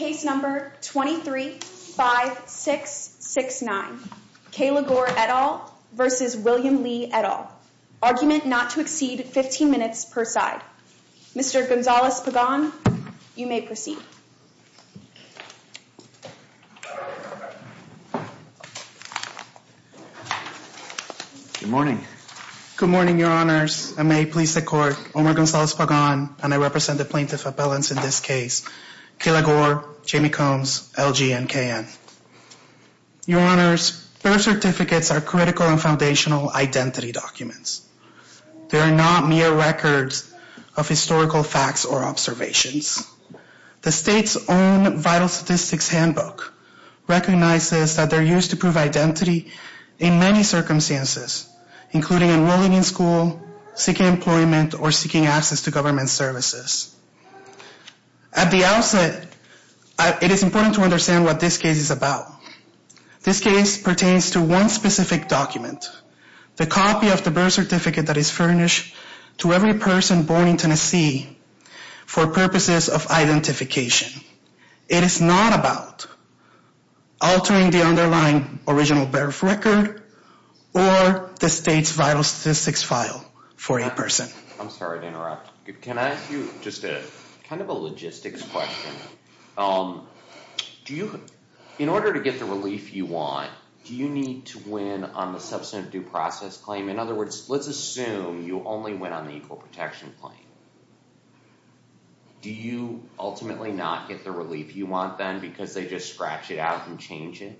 at all, argument not to exceed 15 minutes per side. Mr. Gonzales-Pagan, you may proceed. Good morning. Good morning, your honors. I may please the court, Omar Gonzales-Pagan, and I represent the plaintiff appellants in this case, Kayla Gore, Jamie Combs, LG, and KN. Your honors, birth certificates are critical and foundational identity documents. They are not mere records of historical facts or observations. The state's own vital statistics handbook recognizes that they're used to prove identity in many circumstances, including enrolling in school, seeking employment, or seeking access to government services. At the outset, it is important to understand what this case is about. This case pertains to one specific document, the copy of the birth certificate that is furnished to every person born in Tennessee for purposes of identification. It is not about altering the underlying original birth record or the state's vital statistics file for a person. I'm sorry to interrupt. Can I ask you just a kind of a logistics question? In order to get the relief you want, do you need to win on the substantive due process claim? In other words, let's assume you only went on the equal protection claim. Do you ultimately not get the relief you want then because they just scratch it out and change it?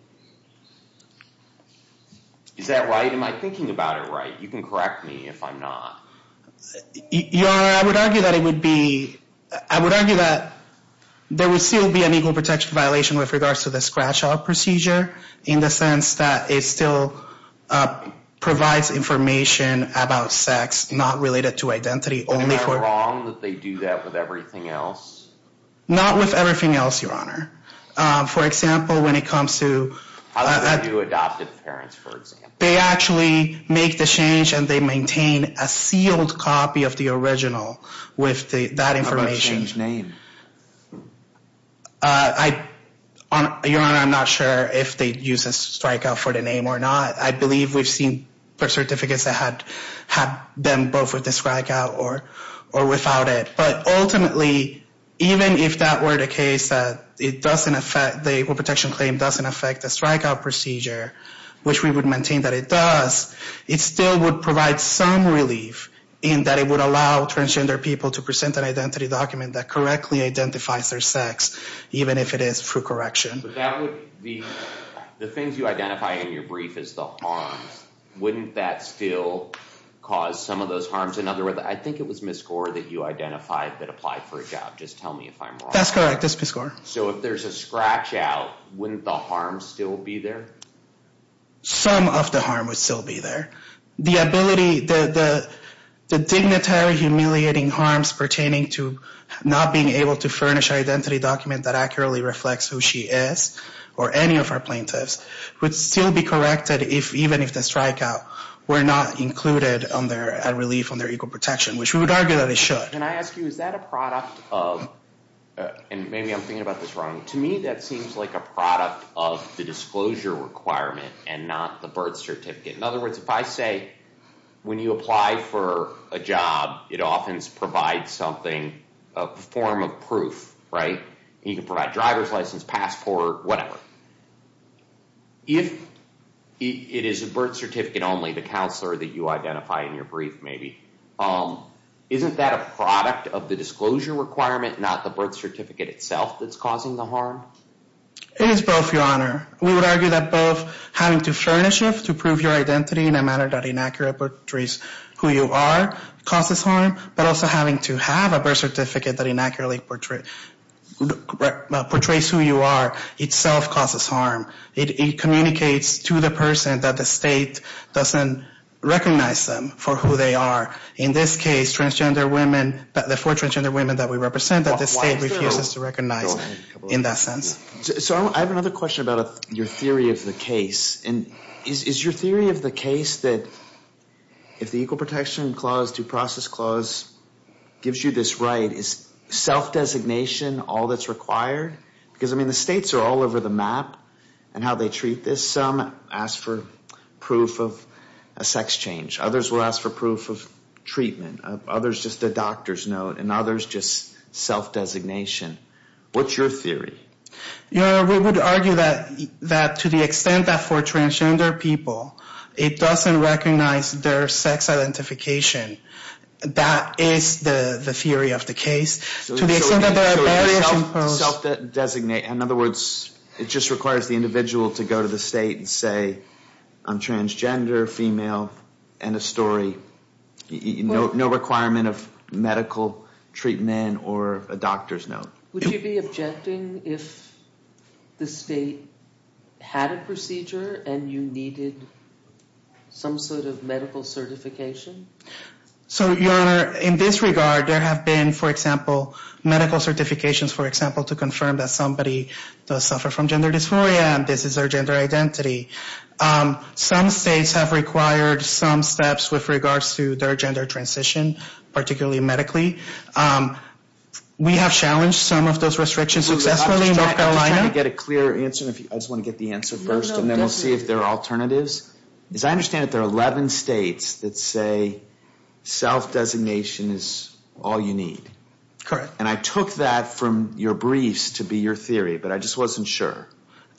Is that right? Am I thinking about it right? You can correct me if I'm not. Your honor, I would argue that it would be... I would argue that there would still be an equal protection violation with regards to the scratch out procedure in the sense that it still provides information about sex not related to identity only for... Is it wrong that they do that with everything else? Not with everything else, your honor. For example, when it comes to... How do they do adoptive parents, for example? They actually make the change and they maintain a sealed copy of the original with that information. How about change name? Your honor, I'm not sure if they use a strike out for the name or not. I believe we've seen certificates that had them both with the strike out or without it. But ultimately, even if that were the case that it doesn't affect... The equal protection claim doesn't affect the strike out procedure, which we would maintain that it does, it still would provide some relief in that it would allow transgender people to present an identity document that correctly identifies their sex, even if it is through correction. The things you identify in your brief is the harms. Wouldn't that still cause some of those harms? In other words, I think it was Ms. Gore that you identified that applied for a job. Just tell me if I'm wrong. That's correct, it's Ms. Gore. So if there's a scratch out, wouldn't the harm still be there? Some of the harm would still be there. The dignitary humiliating harms pertaining to not being able to furnish an identity document that accurately reflects who she is or any of our plaintiffs would still be corrected even if the strike out were not included under a relief on their equal protection, which we would argue that it should. Can I ask you, is that a product of... And maybe I'm thinking about this wrong. To me, that seems like a product of the disclosure requirement and not the birth certificate. In other words, if I say when you apply for a job, it often provides something, a form of proof, right? You can provide a driver's license, passport, whatever. If it is a birth certificate only, the counselor that you identify in your brief maybe, isn't that a product of the disclosure requirement, not the birth certificate itself that's causing the harm? It is both, Your Honor. We would argue that both having to furnish it to prove your identity in a manner that inaccurately portrays who you are causes harm, but also having to have a birth certificate that inaccurately portrays who you are itself causes harm. It communicates to the person that the state doesn't recognize them for who they are. In this case, transgender women, the four transgender women that we represent, that the state refuses to recognize in that sense. So I have another question about your theory of the case. Is your theory of the case that if the Equal Protection Clause, Due Process Clause gives you this right, is self-designation all that's required? Because, I mean, the states are all over the map in how they treat this. Some ask for proof of a sex change. Others will ask for proof of treatment. Others just a doctor's note, and others just self-designation. What's your theory? Your Honor, we would argue that to the extent that for transgender people it doesn't recognize their sex identification, that is the theory of the case. To the extent that there are barriers imposed. So you self-designate. In other words, it just requires the individual to go to the state and say, I'm transgender, female, and a story. No requirement of medical treatment or a doctor's note. Would you be objecting if the state had a procedure and you needed some sort of medical certification? So, Your Honor, in this regard, there have been, for example, medical certifications, for example, to confirm that somebody does suffer from gender dysphoria and this is their gender identity. Some states have required some steps with regards to their gender transition, particularly medically. We have challenged some of those restrictions successfully in North Carolina. I'm trying to get a clear answer. I just want to get the answer first, and then we'll see if there are alternatives. As I understand it, there are 11 states that say self-designation is all you need. Correct. And I took that from your briefs to be your theory, but I just wasn't sure.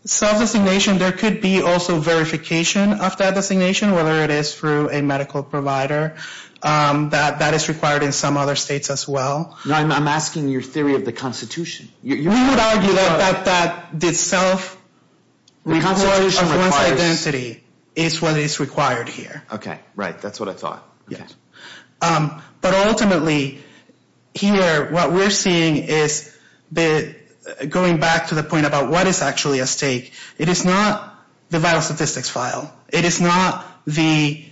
Self-designation, there could be also verification of that designation, whether it is through a medical provider. That is required in some other states as well. I'm asking your theory of the Constitution. We would argue that the self-recognition of one's identity is what is required here. Okay. Right. That's what I thought. Yes. But ultimately, here, what we're seeing is, going back to the point about what is actually at stake, it is not the vital statistics file. It is not the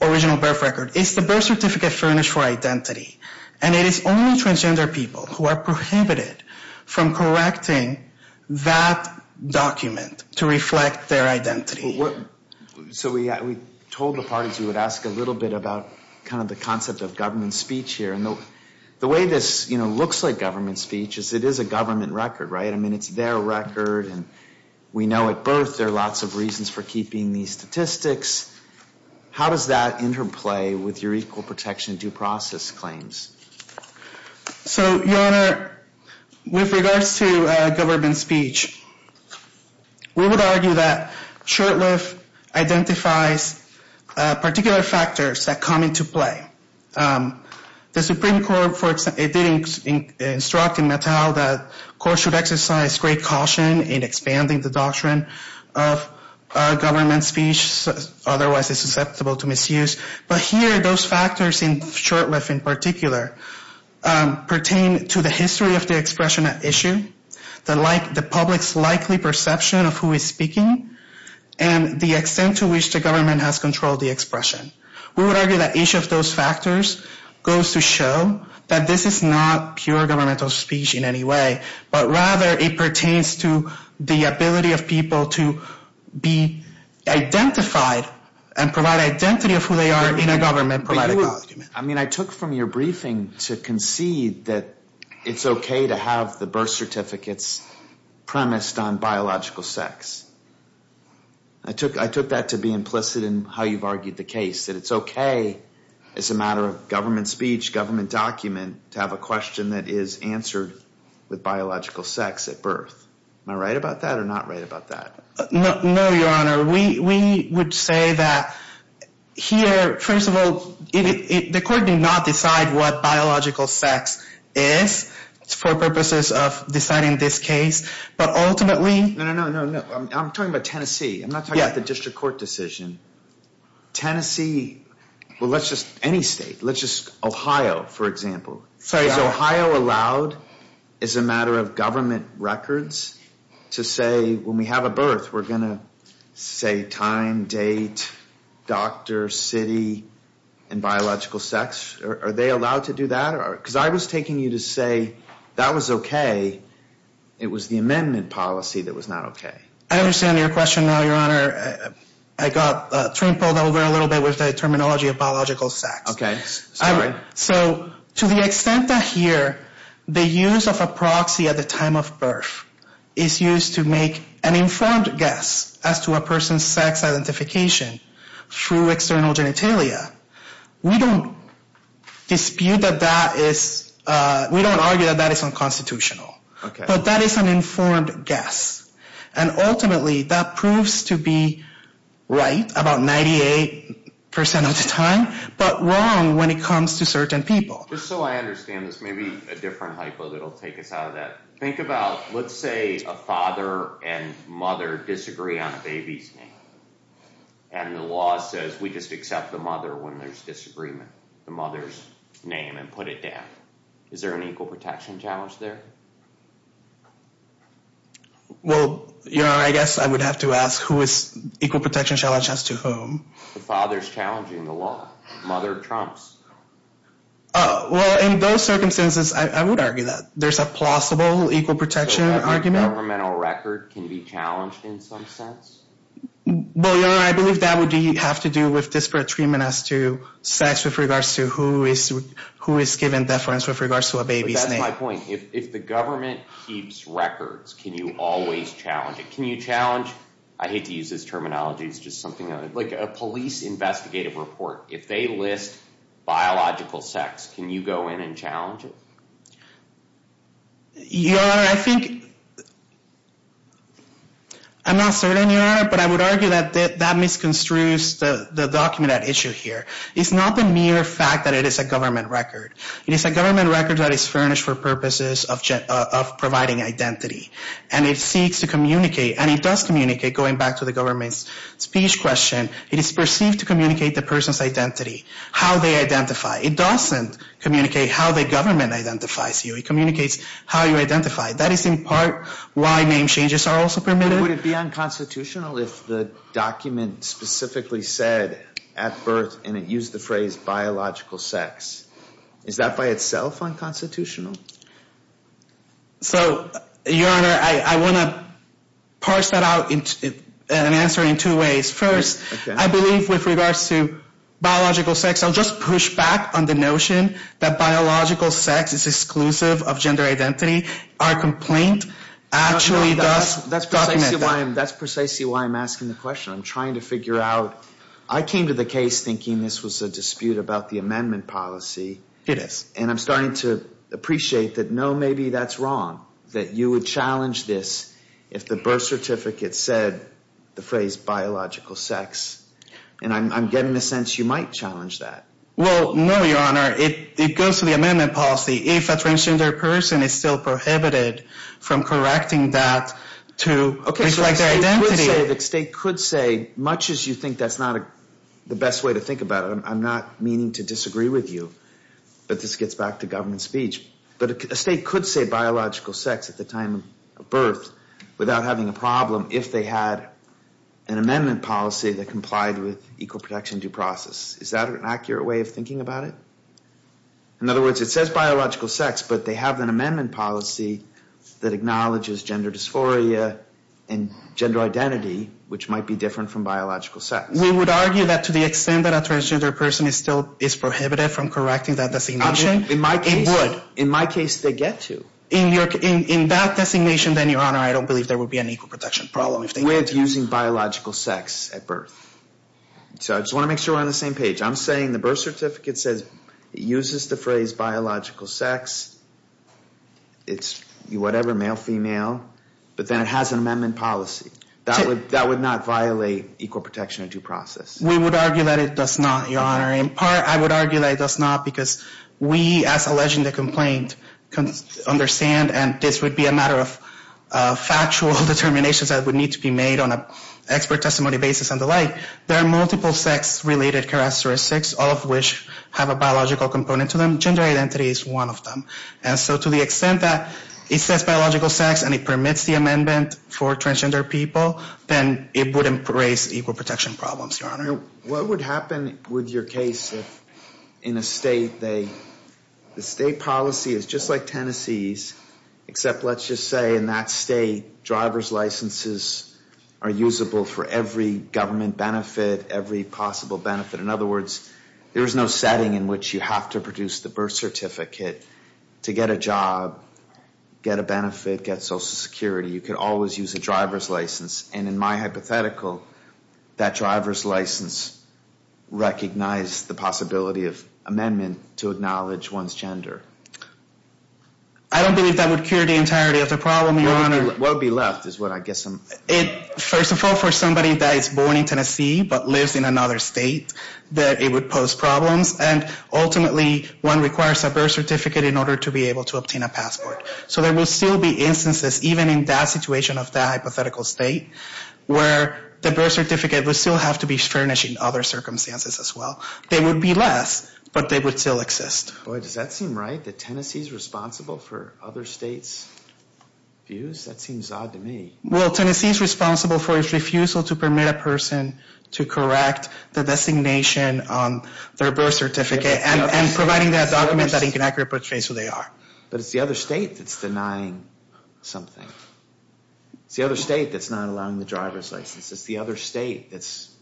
original birth record. It's the birth certificate furnished for identity. And it is only transgender people who are prohibited from correcting that document to reflect their identity. So we told the parties we would ask a little bit about kind of the concept of government speech here. And the way this looks like government speech is it is a government record, right? I mean, it's their record, and we know at birth there are lots of reasons for keeping these statistics. How does that interplay with your equal protection due process claims? So, Your Honor, with regards to government speech, we would argue that Short-Lift identifies particular factors that come into play. The Supreme Court, for example, did instruct in Natal that courts should exercise great caution in expanding the doctrine of government speech, otherwise it's susceptible to misuse. But here, those factors in Short-Lift in particular pertain to the history of the expression at issue, the public's likely perception of who is speaking, and the extent to which the government has controlled the expression. We would argue that each of those factors goes to show that this is not pure governmental speech in any way, but rather it pertains to the ability of people to be identified and provide identity of who they are in a government-provided document. I mean, I took from your briefing to concede that it's okay to have the birth certificates premised on biological sex. I took that to be implicit in how you've argued the case, that it's okay as a matter of government speech, government document, to have a question that is answered with biological sex at birth. Am I right about that or not right about that? No, Your Honor. We would say that here, first of all, the court did not decide what biological sex is for purposes of deciding this case. No, no, no. I'm talking about Tennessee. I'm not talking about the district court decision. Tennessee, well, let's just, any state, let's just, Ohio, for example. Is Ohio allowed as a matter of government records to say, when we have a birth, we're going to say time, date, doctor, city, and biological sex? Are they allowed to do that? Because I was taking you to say that was okay. It was the amendment policy that was not okay. I understand your question now, Your Honor. I got trampled over a little bit with the terminology of biological sex. Okay. So to the extent that here the use of a proxy at the time of birth is used to make an informed guess as to a person's sex identification through external genitalia, we don't dispute that that is, we don't argue that that is unconstitutional. Okay. But that is an informed guess. And ultimately, that proves to be right about 98% of the time, but wrong when it comes to certain people. Just so I understand this, maybe a different hypo that will take us out of that. Think about, let's say a father and mother disagree on a baby's name. And the law says we just accept the mother when there's disagreement, the mother's name, and put it down. Is there an equal protection challenge there? Well, Your Honor, I guess I would have to ask who is, equal protection challenge as to whom? The father's challenging the law. Mother trumps. Well, in those circumstances, I would argue that there's a plausible equal protection argument. So every governmental record can be challenged in some sense? Well, Your Honor, I believe that would have to do with disparate treatment as to sex with regards to who is given deference with regards to a baby's name. But that's my point. If the government keeps records, can you always challenge it? Can you challenge, I hate to use this terminology, it's just something, like a police investigative report. If they list biological sex, can you go in and challenge it? Your Honor, I think, I'm not certain, Your Honor, but I would argue that that misconstrues the document at issue here. It's not the mere fact that it is a government record. It is a government record that is furnished for purposes of providing identity. And it seeks to communicate, and it does communicate, going back to the government's speech question, it is perceived to communicate the person's identity, how they identify. It doesn't communicate how the government identifies you. It communicates how you identify. That is, in part, why name changes are also permitted. Would it be unconstitutional if the document specifically said at birth, and it used the phrase biological sex? Is that by itself unconstitutional? So, Your Honor, I want to parse that out and answer in two ways. First, I believe with regards to biological sex, I'll just push back on the notion that biological sex is exclusive of gender identity. Our complaint actually does document that. That's precisely why I'm asking the question. I'm trying to figure out, I came to the case thinking this was a dispute about the amendment policy. It is. And I'm starting to appreciate that, no, maybe that's wrong, that you would challenge this if the birth certificate said the phrase biological sex. And I'm getting the sense you might challenge that. Well, no, Your Honor. It goes to the amendment policy. If a transgender person is still prohibited from correcting that to reflect their identity. Okay, so the state could say, much as you think that's not the best way to think about it, I'm not meaning to disagree with you. But this gets back to government speech. But a state could say biological sex at the time of birth without having a problem if they had an amendment policy that complied with equal protection due process. Is that an accurate way of thinking about it? In other words, it says biological sex, but they have an amendment policy that acknowledges gender dysphoria and gender identity, which might be different from biological sex. We would argue that to the extent that a transgender person is prohibited from correcting that designation. In my case, they get to. In that designation, then, Your Honor, I don't believe there would be an equal protection problem. We're using biological sex at birth. So I just want to make sure we're on the same page. I'm saying the birth certificate says it uses the phrase biological sex. It's whatever, male, female. But then it has an amendment policy. That would not violate equal protection and due process. We would argue that it does not, Your Honor. In part, I would argue that it does not because we, as alleging the complaint, understand, and this would be a matter of factual determinations that would need to be made on an expert testimony basis and the like. There are multiple sex-related characteristics, all of which have a biological component to them. Gender identity is one of them. And so to the extent that it says biological sex and it permits the amendment for transgender people, then it wouldn't raise equal protection problems, Your Honor. What would happen with your case if, in a state, the state policy is just like Tennessee's, except, let's just say, in that state, driver's licenses are usable for every government benefit, every possible benefit. In other words, there is no setting in which you have to produce the birth certificate to get a job, get a benefit, get Social Security. You could always use a driver's license. And in my hypothetical, that driver's license recognized the possibility of amendment to acknowledge one's gender. I don't believe that would cure the entirety of the problem, Your Honor. What would be left is what I guess I'm… First of all, for somebody that is born in Tennessee but lives in another state, that it would pose problems. And ultimately, one requires a birth certificate in order to be able to obtain a passport. So there will still be instances, even in that situation of that hypothetical state, where the birth certificate would still have to be furnished in other circumstances as well. They would be less, but they would still exist. Boy, does that seem right, that Tennessee's responsible for other states' views? That seems odd to me. Well, Tennessee's responsible for its refusal to permit a person to correct the designation on their birth certificate and providing that document that inaccurately portrays who they are. But it's the other state that's denying something. It's the other state that's not allowing the driver's license. It's the other state that's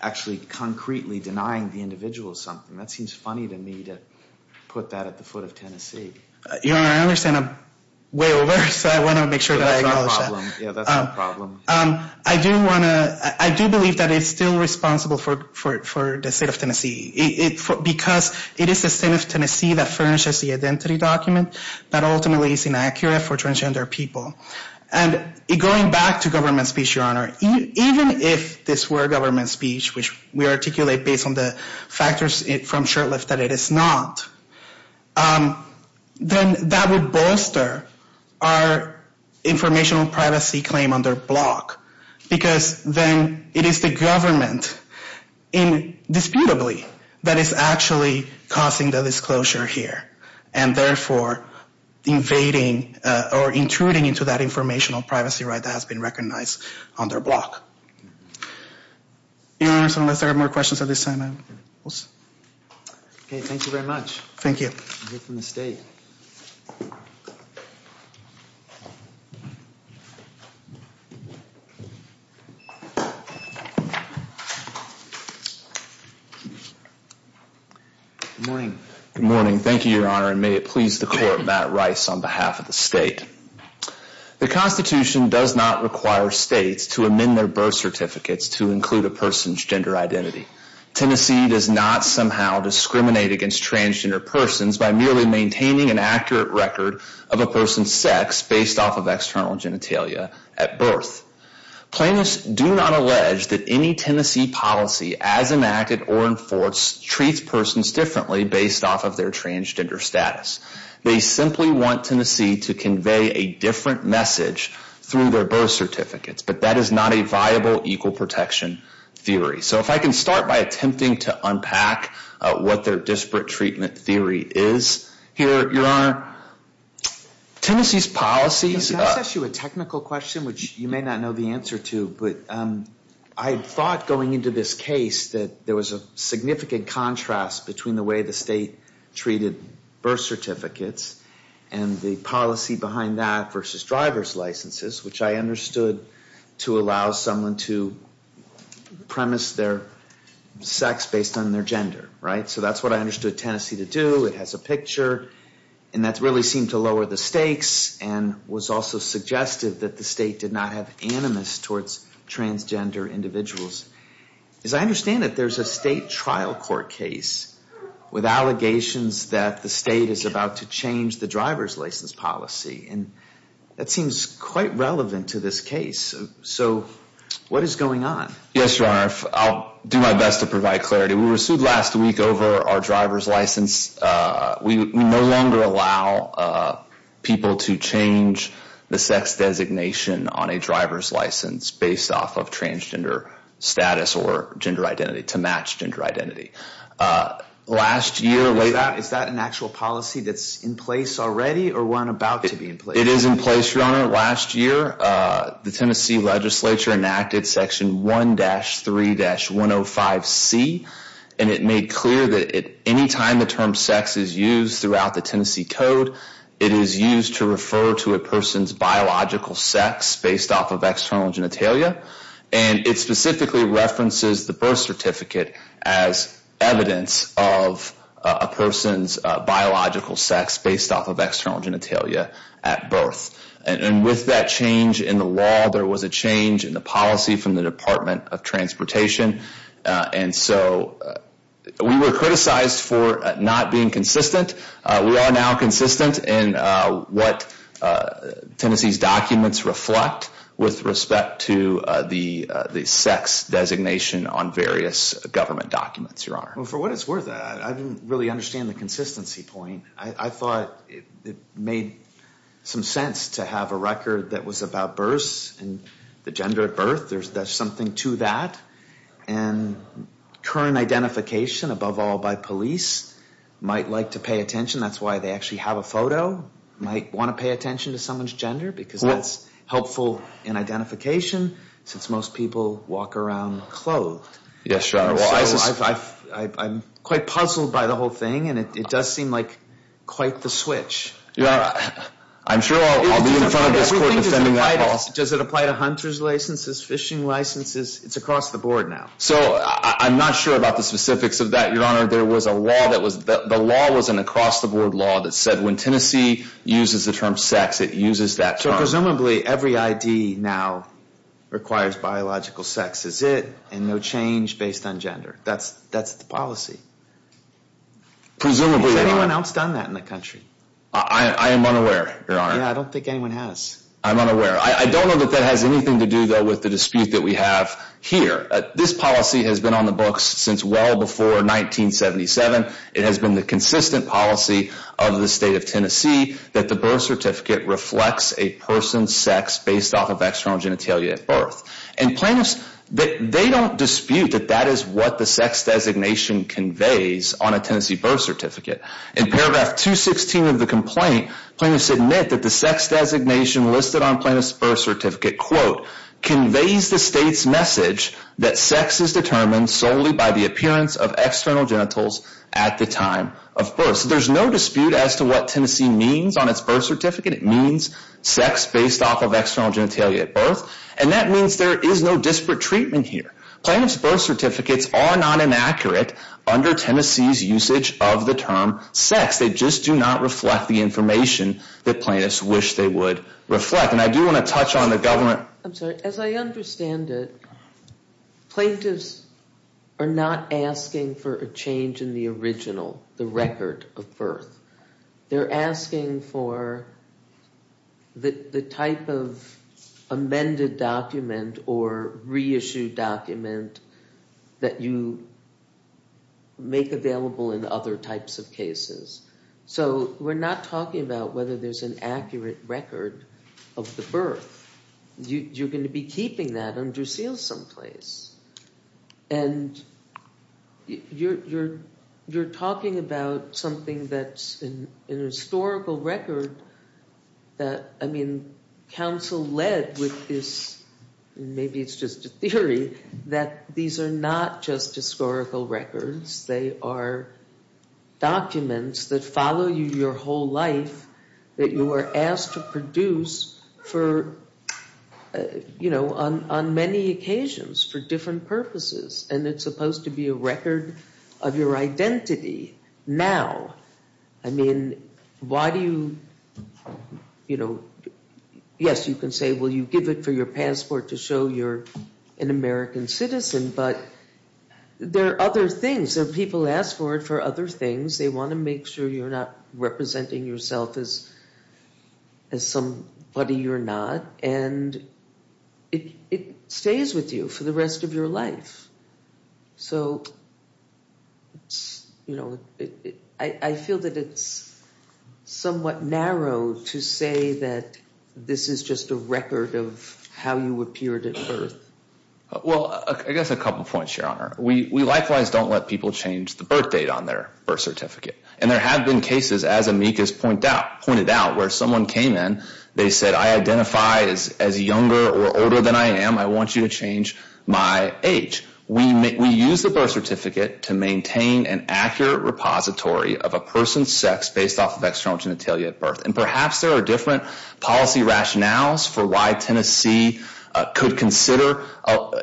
actually concretely denying the individual something. That seems funny to me to put that at the foot of Tennessee. Your Honor, I understand I'm way over, so I want to make sure that I acknowledge that. Yeah, that's not a problem. I do want to, I do believe that it's still responsible for the state of Tennessee. Because it is the state of Tennessee that furnishes the identity document that ultimately is inaccurate for transgender people. And going back to government speech, Your Honor, even if this were government speech, which we articulate based on the factors from Shurtleff that it is not, then that would bolster our informational privacy claim under block. Because then it is the government, indisputably, that is actually causing the disclosure here. And therefore, invading or intruding into that informational privacy right that has been recognized under block. Your Honor, unless there are more questions at this time, I will stop. Okay, thank you very much. Thank you. You're from the state. Good morning. Good morning. Thank you, Your Honor, and may it please the Court, Matt Rice on behalf of the state. The Constitution does not require states to amend their birth certificates to include a person's gender identity. Tennessee does not somehow discriminate against transgender persons by merely maintaining an accurate record of a person's sex based off of external genitalia at birth. Plaintiffs do not allege that any Tennessee policy, as enacted or enforced, treats persons differently based off of their transgender status. They simply want Tennessee to convey a different message through their birth certificates. But that is not a viable equal protection theory. So if I can start by attempting to unpack what their disparate treatment theory is. Here, Your Honor, Tennessee's policies. Can I ask you a technical question which you may not know the answer to? But I thought going into this case that there was a significant contrast between the way the state treated birth certificates and the policy behind that versus driver's licenses, which I understood to allow someone to premise their sex based on their gender, right? So that's what I understood Tennessee to do. It has a picture, and that really seemed to lower the stakes and was also suggestive that the state did not have animus towards transgender individuals. As I understand it, there's a state trial court case with allegations that the state is about to change the driver's license policy. And that seems quite relevant to this case. So what is going on? Yes, Your Honor. I'll do my best to provide clarity. We were sued last week over our driver's license. We no longer allow people to change the sex designation on a driver's license based off of transgender status or gender identity to match gender identity. Last year, later... Is that an actual policy that's in place already or one about to be in place? It is in place, Your Honor. Last year, the Tennessee legislature enacted Section 1-3-105C, and it made clear that any time the term sex is used throughout the Tennessee Code, it is used to refer to a person's biological sex based off of external genitalia. And it specifically references the birth certificate as evidence of a person's biological sex based off of external genitalia at birth. And with that change in the law, there was a change in the policy from the Department of Transportation. And so we were criticized for not being consistent. We are now consistent in what Tennessee's documents reflect with respect to the sex designation on various government documents, Your Honor. Well, for what it's worth, I didn't really understand the consistency point. I thought it made some sense to have a record that was about births and the gender at birth. There's something to that. And current identification, above all, by police might like to pay attention. That's why they actually have a photo. Might want to pay attention to someone's gender because that's helpful in identification since most people walk around clothed. Yes, Your Honor. I'm quite puzzled by the whole thing, and it does seem like quite the switch. I'm sure I'll be in front of this court defending that policy. Does it apply to hunter's licenses, fishing licenses? It's across the board now. So I'm not sure about the specifics of that, Your Honor. The law was an across-the-board law that said when Tennessee uses the term sex, it uses that term. So presumably every ID now requires biological sex, is it? And no change based on gender. That's the policy. Presumably, Your Honor. Has anyone else done that in the country? I am unaware, Your Honor. Yeah, I don't think anyone has. I'm unaware. I don't know that that has anything to do, though, with the dispute that we have here. This policy has been on the books since well before 1977. It has been the consistent policy of the state of Tennessee that the birth certificate reflects a person's sex based off of external genitalia at birth. And plaintiffs, they don't dispute that that is what the sex designation conveys on a Tennessee birth certificate. In paragraph 216 of the complaint, plaintiffs admit that the sex designation listed on plaintiff's birth certificate, quote, conveys the state's message that sex is determined solely by the appearance of external genitals at the time of birth. So there's no dispute as to what Tennessee means on its birth certificate. It means sex based off of external genitalia at birth. And that means there is no disparate treatment here. Plaintiff's birth certificates are not inaccurate under Tennessee's usage of the term sex. They just do not reflect the information that plaintiffs wish they would reflect. And I do want to touch on the government. I'm sorry. As I understand it, plaintiffs are not asking for a change in the original, the record of birth. They're asking for the type of amended document or reissued document that you make available in other types of cases. So we're not talking about whether there's an accurate record of the birth. You're going to be keeping that under seal someplace. And you're talking about something that's an historical record that, I mean, counsel led with this, maybe it's just a theory, that these are not just historical records. They are documents that follow you your whole life, that you are asked to produce for, you know, on many occasions for different purposes. And it's supposed to be a record of your identity now. I mean, why do you, you know, yes, you can say, well, you give it for your passport to show you're an American citizen. But there are other things. There are people who ask for it for other things. They want to make sure you're not representing yourself as somebody you're not. And it stays with you for the rest of your life. So, you know, I feel that it's somewhat narrow to say that this is just a record of how you appeared at birth. Well, I guess a couple points, Your Honor. We likewise don't let people change the birth date on their birth certificate. And there have been cases, as Amicus pointed out, where someone came in, they said, I identify as younger or older than I am. I want you to change my age. We use the birth certificate to maintain an accurate repository of a person's sex based off of external genitalia at birth. And perhaps there are different policy rationales for why Tennessee could consider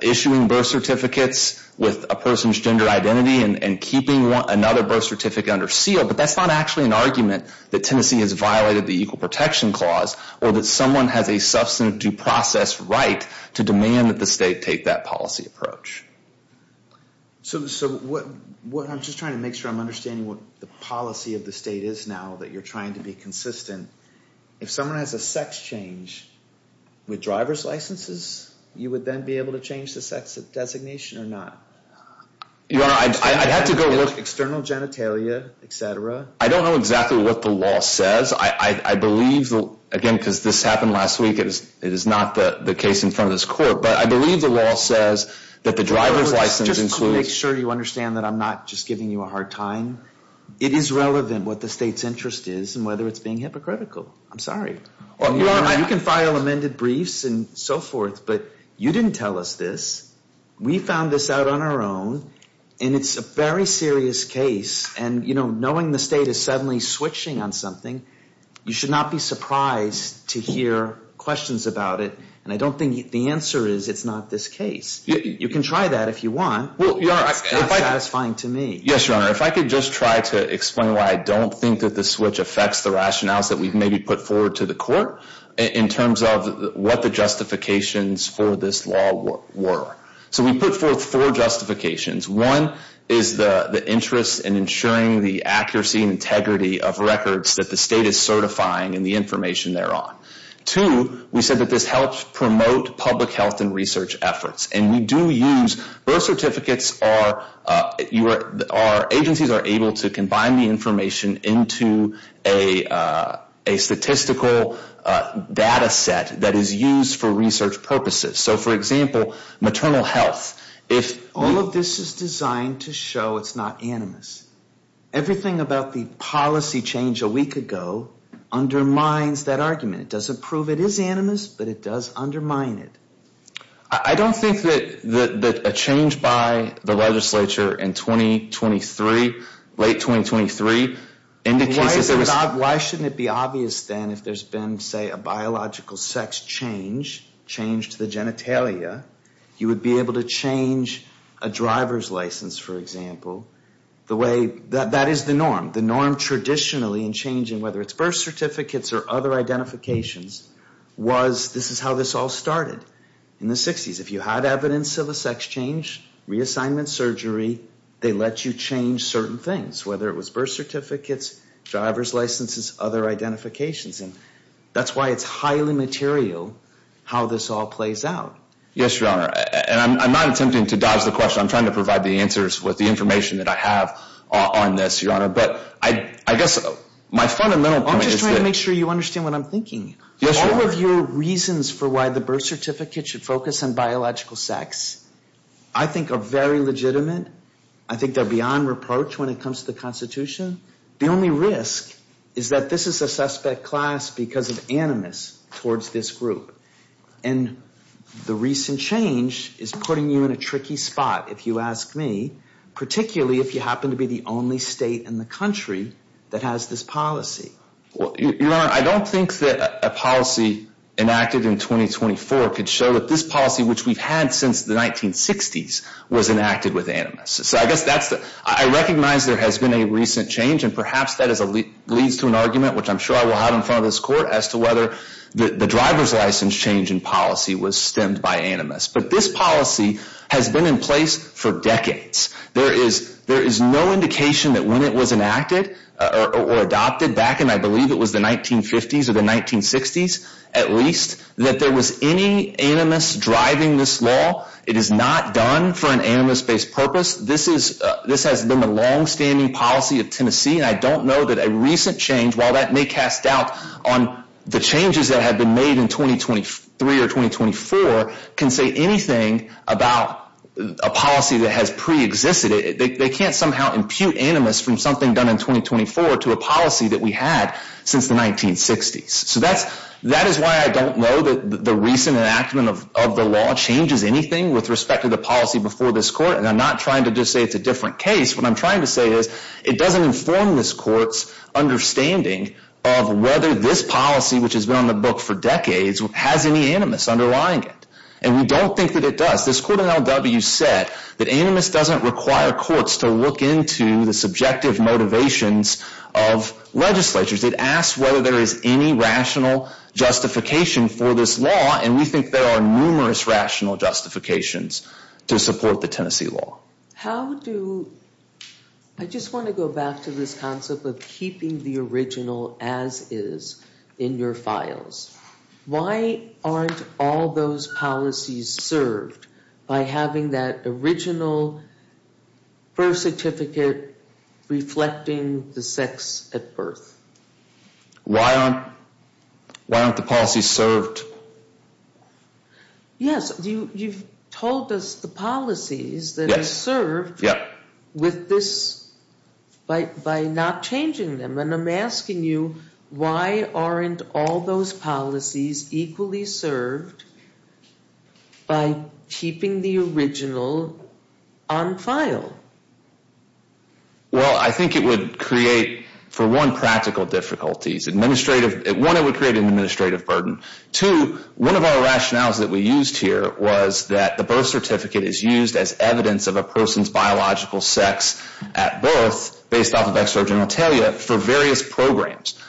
issuing birth certificates with a person's gender identity and keeping another birth certificate under seal. But that's not actually an argument that Tennessee has violated the Equal Protection Clause or that someone has a substantive due process right to demand that the state take that policy approach. So what I'm just trying to make sure I'm understanding what the policy of the state is now that you're trying to be consistent. If someone has a sex change with driver's licenses, you would then be able to change the sex designation or not? Your Honor, I'd have to go look. External genitalia, et cetera. I don't know exactly what the law says. I believe, again, because this happened last week, it is not the case in front of this court. But I believe the law says that the driver's license includes. Just to make sure you understand that I'm not just giving you a hard time. It is relevant what the state's interest is and whether it's being hypocritical. I'm sorry. Your Honor, you can file amended briefs and so forth. But you didn't tell us this. We found this out on our own. And it's a very serious case. And, you know, knowing the state is suddenly switching on something, you should not be surprised to hear questions about it. And I don't think the answer is it's not this case. You can try that if you want. It's not satisfying to me. Yes, Your Honor. If I could just try to explain why I don't think that the switch affects the rationales that we've maybe put forward to the court in terms of what the justifications for this law were. So we put forth four justifications. One is the interest in ensuring the accuracy and integrity of records that the state is certifying and the information thereof. Two, we said that this helps promote public health and research efforts. And we do use birth certificates. Our agencies are able to combine the information into a statistical data set that is used for research purposes. So, for example, maternal health. All of this is designed to show it's not animus. Everything about the policy change a week ago undermines that argument. It doesn't prove it is animus, but it does undermine it. I don't think that a change by the legislature in 2023, late 2023, indicates that there was... Why shouldn't it be obvious then if there's been, say, a biological sex change, change to the genitalia, you would be able to change a driver's license, for example. That is the norm. The norm traditionally in changing whether it's birth certificates or other identifications was this is how this all started in the 60s. If you had evidence of a sex change, reassignment surgery, they let you change certain things, whether it was birth certificates, driver's licenses, other identifications. And that's why it's highly material how this all plays out. Yes, Your Honor. And I'm not attempting to dodge the question. I'm trying to provide the answers with the information that I have on this, Your Honor. But I guess my fundamental point is that... All of your reasons for why the birth certificate should focus on biological sex I think are very legitimate. I think they're beyond reproach when it comes to the Constitution. The only risk is that this is a suspect class because of animus towards this group. And the recent change is putting you in a tricky spot, if you ask me, particularly if you happen to be the only state in the country that has this policy. Your Honor, I don't think that a policy enacted in 2024 could show that this policy, which we've had since the 1960s, was enacted with animus. So I guess that's the... I recognize there has been a recent change, and perhaps that leads to an argument, which I'm sure I will have in front of this Court, as to whether the driver's license change in policy was stemmed by animus. But this policy has been in place for decades. There is no indication that when it was enacted or adopted, back in I believe it was the 1950s or the 1960s at least, that there was any animus driving this law. It is not done for an animus-based purpose. This has been the longstanding policy of Tennessee, and I don't know that a recent change, while that may cast doubt on the changes that have been made in 2023 or 2024, can say anything about a policy that has preexisted. They can't somehow impute animus from something done in 2024 to a policy that we had since the 1960s. So that is why I don't know that the recent enactment of the law changes anything with respect to the policy before this Court, and I'm not trying to just say it's a different case. What I'm trying to say is it doesn't inform this Court's understanding of whether this policy, which has been on the book for decades, has any animus underlying it. And we don't think that it does. This Court in L.W. said that animus doesn't require courts to look into the subjective motivations of legislatures. It asks whether there is any rational justification for this law, and we think there are numerous rational justifications to support the Tennessee law. I just want to go back to this concept of keeping the original as is in your files. Why aren't all those policies served by having that original birth certificate reflecting the sex at birth? Why aren't the policies served? Yes, you've told us the policies that are served by not changing them, and I'm asking you why aren't all those policies equally served by keeping the original on file? Well, I think it would create, for one, practical difficulties. One, it would create an administrative burden. Two, one of our rationales that we used here was that the birth certificate is used as evidence of a person's biological sex at birth based off of ex-surgeon Atalia for various programs,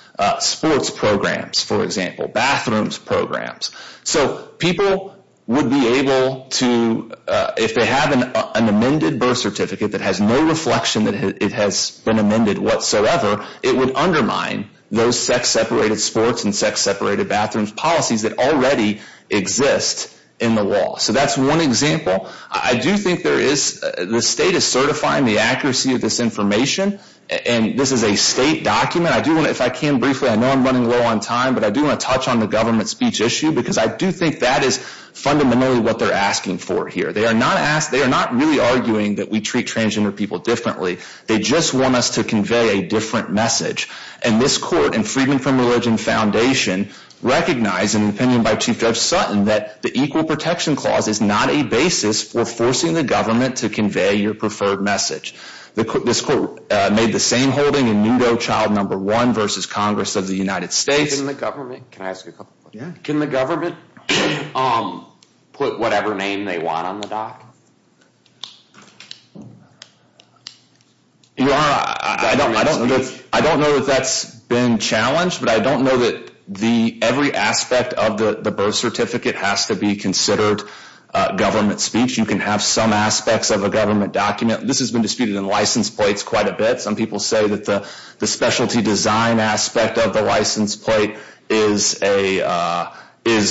sports programs, for example, bathrooms programs. So people would be able to, if they have an amended birth certificate that has no reflection that it has been amended whatsoever, it would undermine those sex-separated sports and sex-separated bathrooms policies that already exist in the law. So that's one example. I do think there is, the state is certifying the accuracy of this information, and this is a state document. I do want to, if I can briefly, I know I'm running low on time, but I do want to touch on the government speech issue because I do think that is fundamentally what they're asking for here. They are not really arguing that we treat transgender people differently. They just want us to convey a different message. And this court and Freedom From Religion Foundation recognize in an opinion by Chief Judge Sutton that the Equal Protection Clause is not a basis for forcing the government to convey your preferred message. This court made the same holding in Nudo Child No. 1 versus Congress of the United States. Can the government put whatever name they want on the doc? I don't know that that's been challenged, but I don't know that every aspect of the birth certificate has to be considered government speech. You can have some aspects of a government document. This has been disputed in license plates quite a bit. Some people say that the specialty design aspect of the license plate is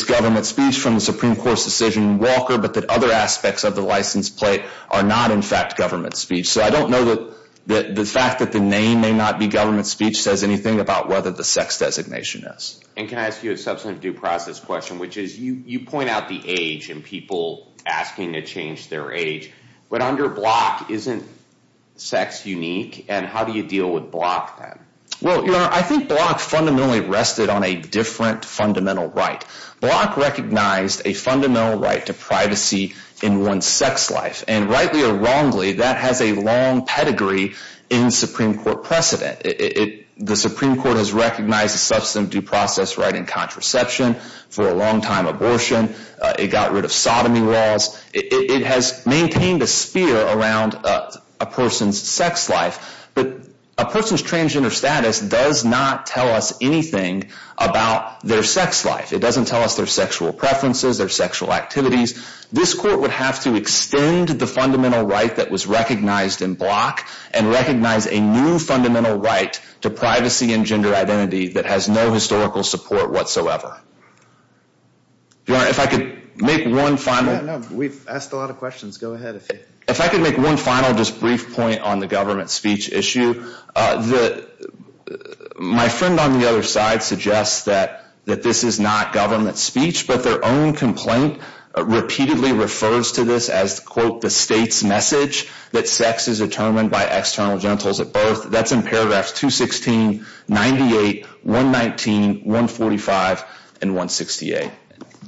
government speech from the Supreme Court's decision in Walker, but that other aspects of the license plate are not, in fact, government speech. So I don't know that the fact that the name may not be government speech says anything about whether the sex designation is. And can I ask you a substantive due process question, which is you point out the age and people asking to change their age, but under Block isn't sex unique? And how do you deal with Block then? Well, Your Honor, I think Block fundamentally rested on a different fundamental right. Block recognized a fundamental right to privacy in one's sex life. And rightly or wrongly, that has a long pedigree in Supreme Court precedent. The Supreme Court has recognized a substantive due process right in contraception for a long time abortion. It got rid of sodomy laws. It has maintained a spear around a person's sex life. But a person's transgender status does not tell us anything about their sex life. It doesn't tell us their sexual preferences, their sexual activities. This court would have to extend the fundamental right that was recognized in Block and recognize a new fundamental right to privacy and gender identity that has no historical support whatsoever. Your Honor, if I could make one final. We've asked a lot of questions. Go ahead. If I could make one final just brief point on the government speech issue. My friend on the other side suggests that this is not government speech, but their own complaint repeatedly refers to this as, quote, the state's message that sex is determined by external genitals at birth. That's in paragraphs 216, 98, 119, 145, and 168.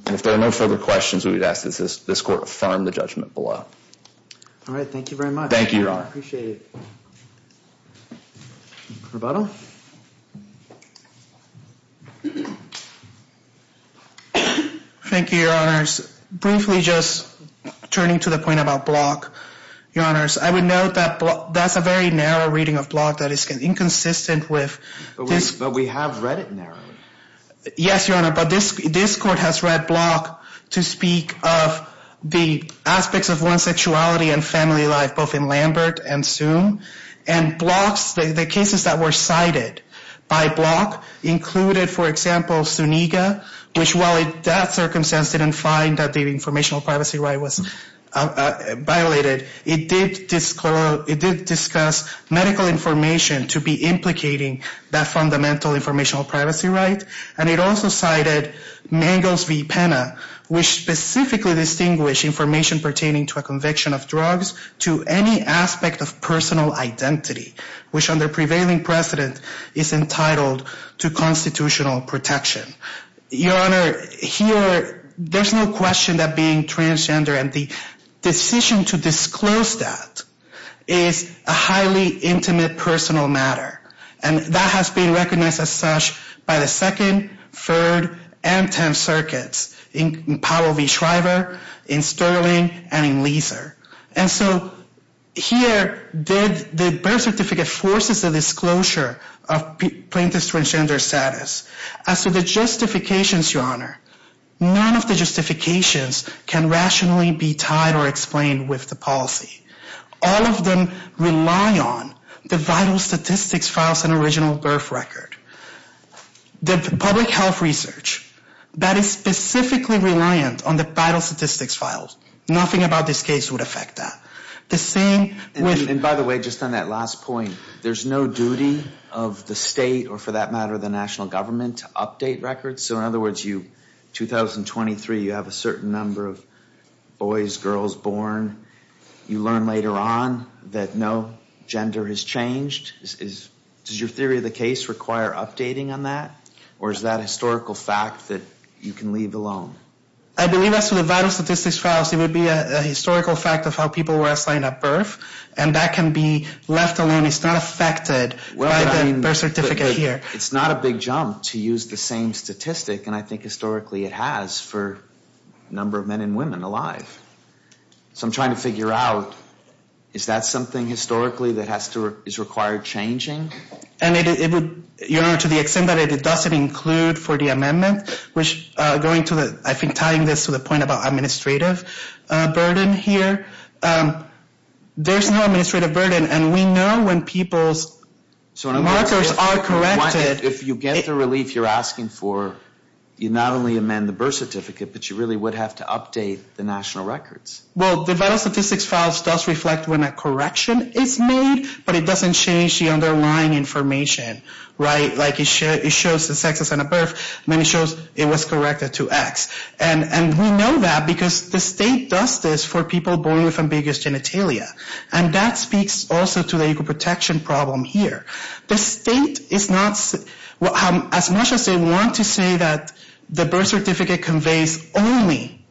And if there are no further questions, we would ask that this court affirm the judgment below. All right. Thank you very much. Thank you, Your Honor. I appreciate it. Rebuttal. Thank you, Your Honors. Briefly just turning to the point about Block, Your Honors, I would note that that's a very narrow reading of Block that is inconsistent with this. But we have read it narrowly. Yes, Your Honor, but this court has read Block to speak of the aspects of one's sexuality and family life both in Lambert and Soon. And the cases that were cited by Block included, for example, Suniga, which while in that circumstance didn't find that the informational privacy right was violated, it did discuss medical information to be implicating that fundamental informational privacy right. And it also cited Mangos v. Pena, which specifically distinguished information pertaining to a conviction of drugs to any aspect of personal identity, which under prevailing precedent is entitled to constitutional protection. Your Honor, here there's no question that being transgender and the decision to disclose that is a highly intimate personal matter. And that has been recognized as such by the Second, Third, and Tenth Circuits in Powell v. Shriver, in Sterling, and in Leiser. And so here the birth certificate forces the disclosure of plaintiff's transgender status. As to the justifications, Your Honor, none of the justifications can rationally be tied or explained with the policy. All of them rely on the vital statistics files and original birth record. The public health research that is specifically reliant on the vital statistics files, nothing about this case would affect that. And by the way, just on that last point, there's no duty of the state or for that matter the national government to update records? So in other words, 2023 you have a certain number of boys, girls born. You learn later on that no gender has changed. Does your theory of the case require updating on that? Or is that a historical fact that you can leave alone? I believe as to the vital statistics files, it would be a historical fact of how people were assigned at birth. And that can be left alone. It's not affected by the birth certificate here. It's not a big jump to use the same statistic, and I think historically it has for the number of men and women alive. So I'm trying to figure out, is that something historically that is required changing? And it would, Your Honor, to the extent that it doesn't include for the amendment, which going to the, I think tying this to the point about administrative burden here, there's no administrative burden. And we know when people's markers are corrected. If you get the relief you're asking for, you not only amend the birth certificate, but you really would have to update the national records. Well, the vital statistics files does reflect when a correction is made, but it doesn't change the underlying information, right? Like it shows the sex at birth when it shows it was corrected to X. And we know that because the state does this for people born with ambiguous genitalia. And that speaks also to the equal protection problem here. The state is not, as much as they want to say that the birth certificate conveys only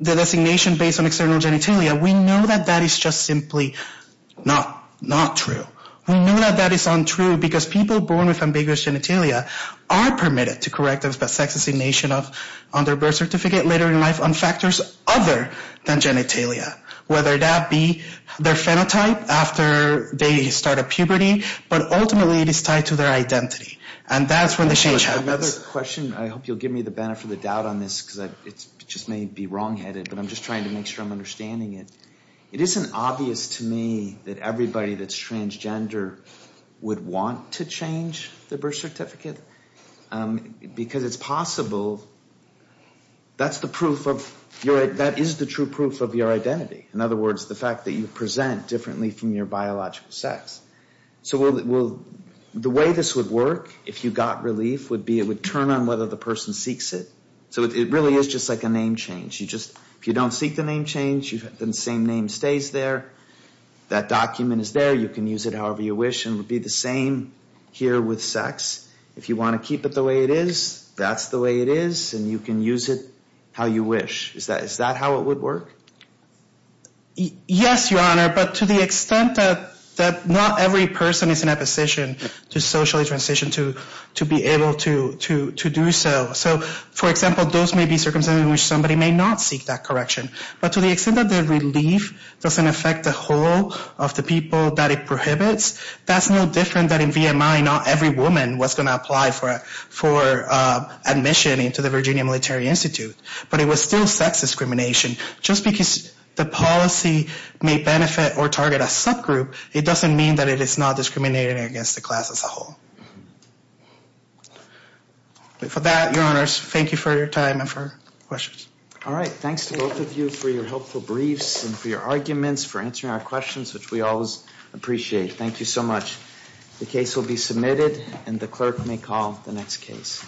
the designation based on external genitalia, we know that that is just simply not true. We know that that is untrue because people born with ambiguous genitalia are permitted to correct the sex designation on their birth certificate later in life on factors other than genitalia. Whether that be their phenotype after they start a puberty, but ultimately it is tied to their identity. And that's when the change happens. Another question, I hope you'll give me the benefit of the doubt on this, because it just may be wrongheaded, but I'm just trying to make sure I'm understanding it. It isn't obvious to me that everybody that's transgender would want to change their birth certificate. Because it's possible, that's the proof of, that is the true proof of your identity. In other words, the fact that you present differently from your biological sex. So the way this would work, if you got relief, would be it would turn on whether the person seeks it. So it really is just like a name change. You just, if you don't seek the name change, the same name stays there. That document is there, you can use it however you wish, and it would be the same here with sex. If you want to keep it the way it is, that's the way it is, and you can use it how you wish. Is that how it would work? Yes, Your Honor, but to the extent that not every person is in a position to socially transition to be able to do so. So, for example, those may be circumstances in which somebody may not seek that correction. But to the extent that the relief doesn't affect the whole of the people that it prohibits, that's no different that in VMI not every woman was going to apply for admission into the Virginia Military Institute. But it was still sex discrimination. Just because the policy may benefit or target a subgroup, it doesn't mean that it is not discriminating against the class as a whole. But for that, Your Honors, thank you for your time and for questions. All right, thanks to both of you for your helpful briefs and for your arguments, for answering our questions, which we always appreciate. Thank you so much. The case will be submitted, and the clerk may call the next case.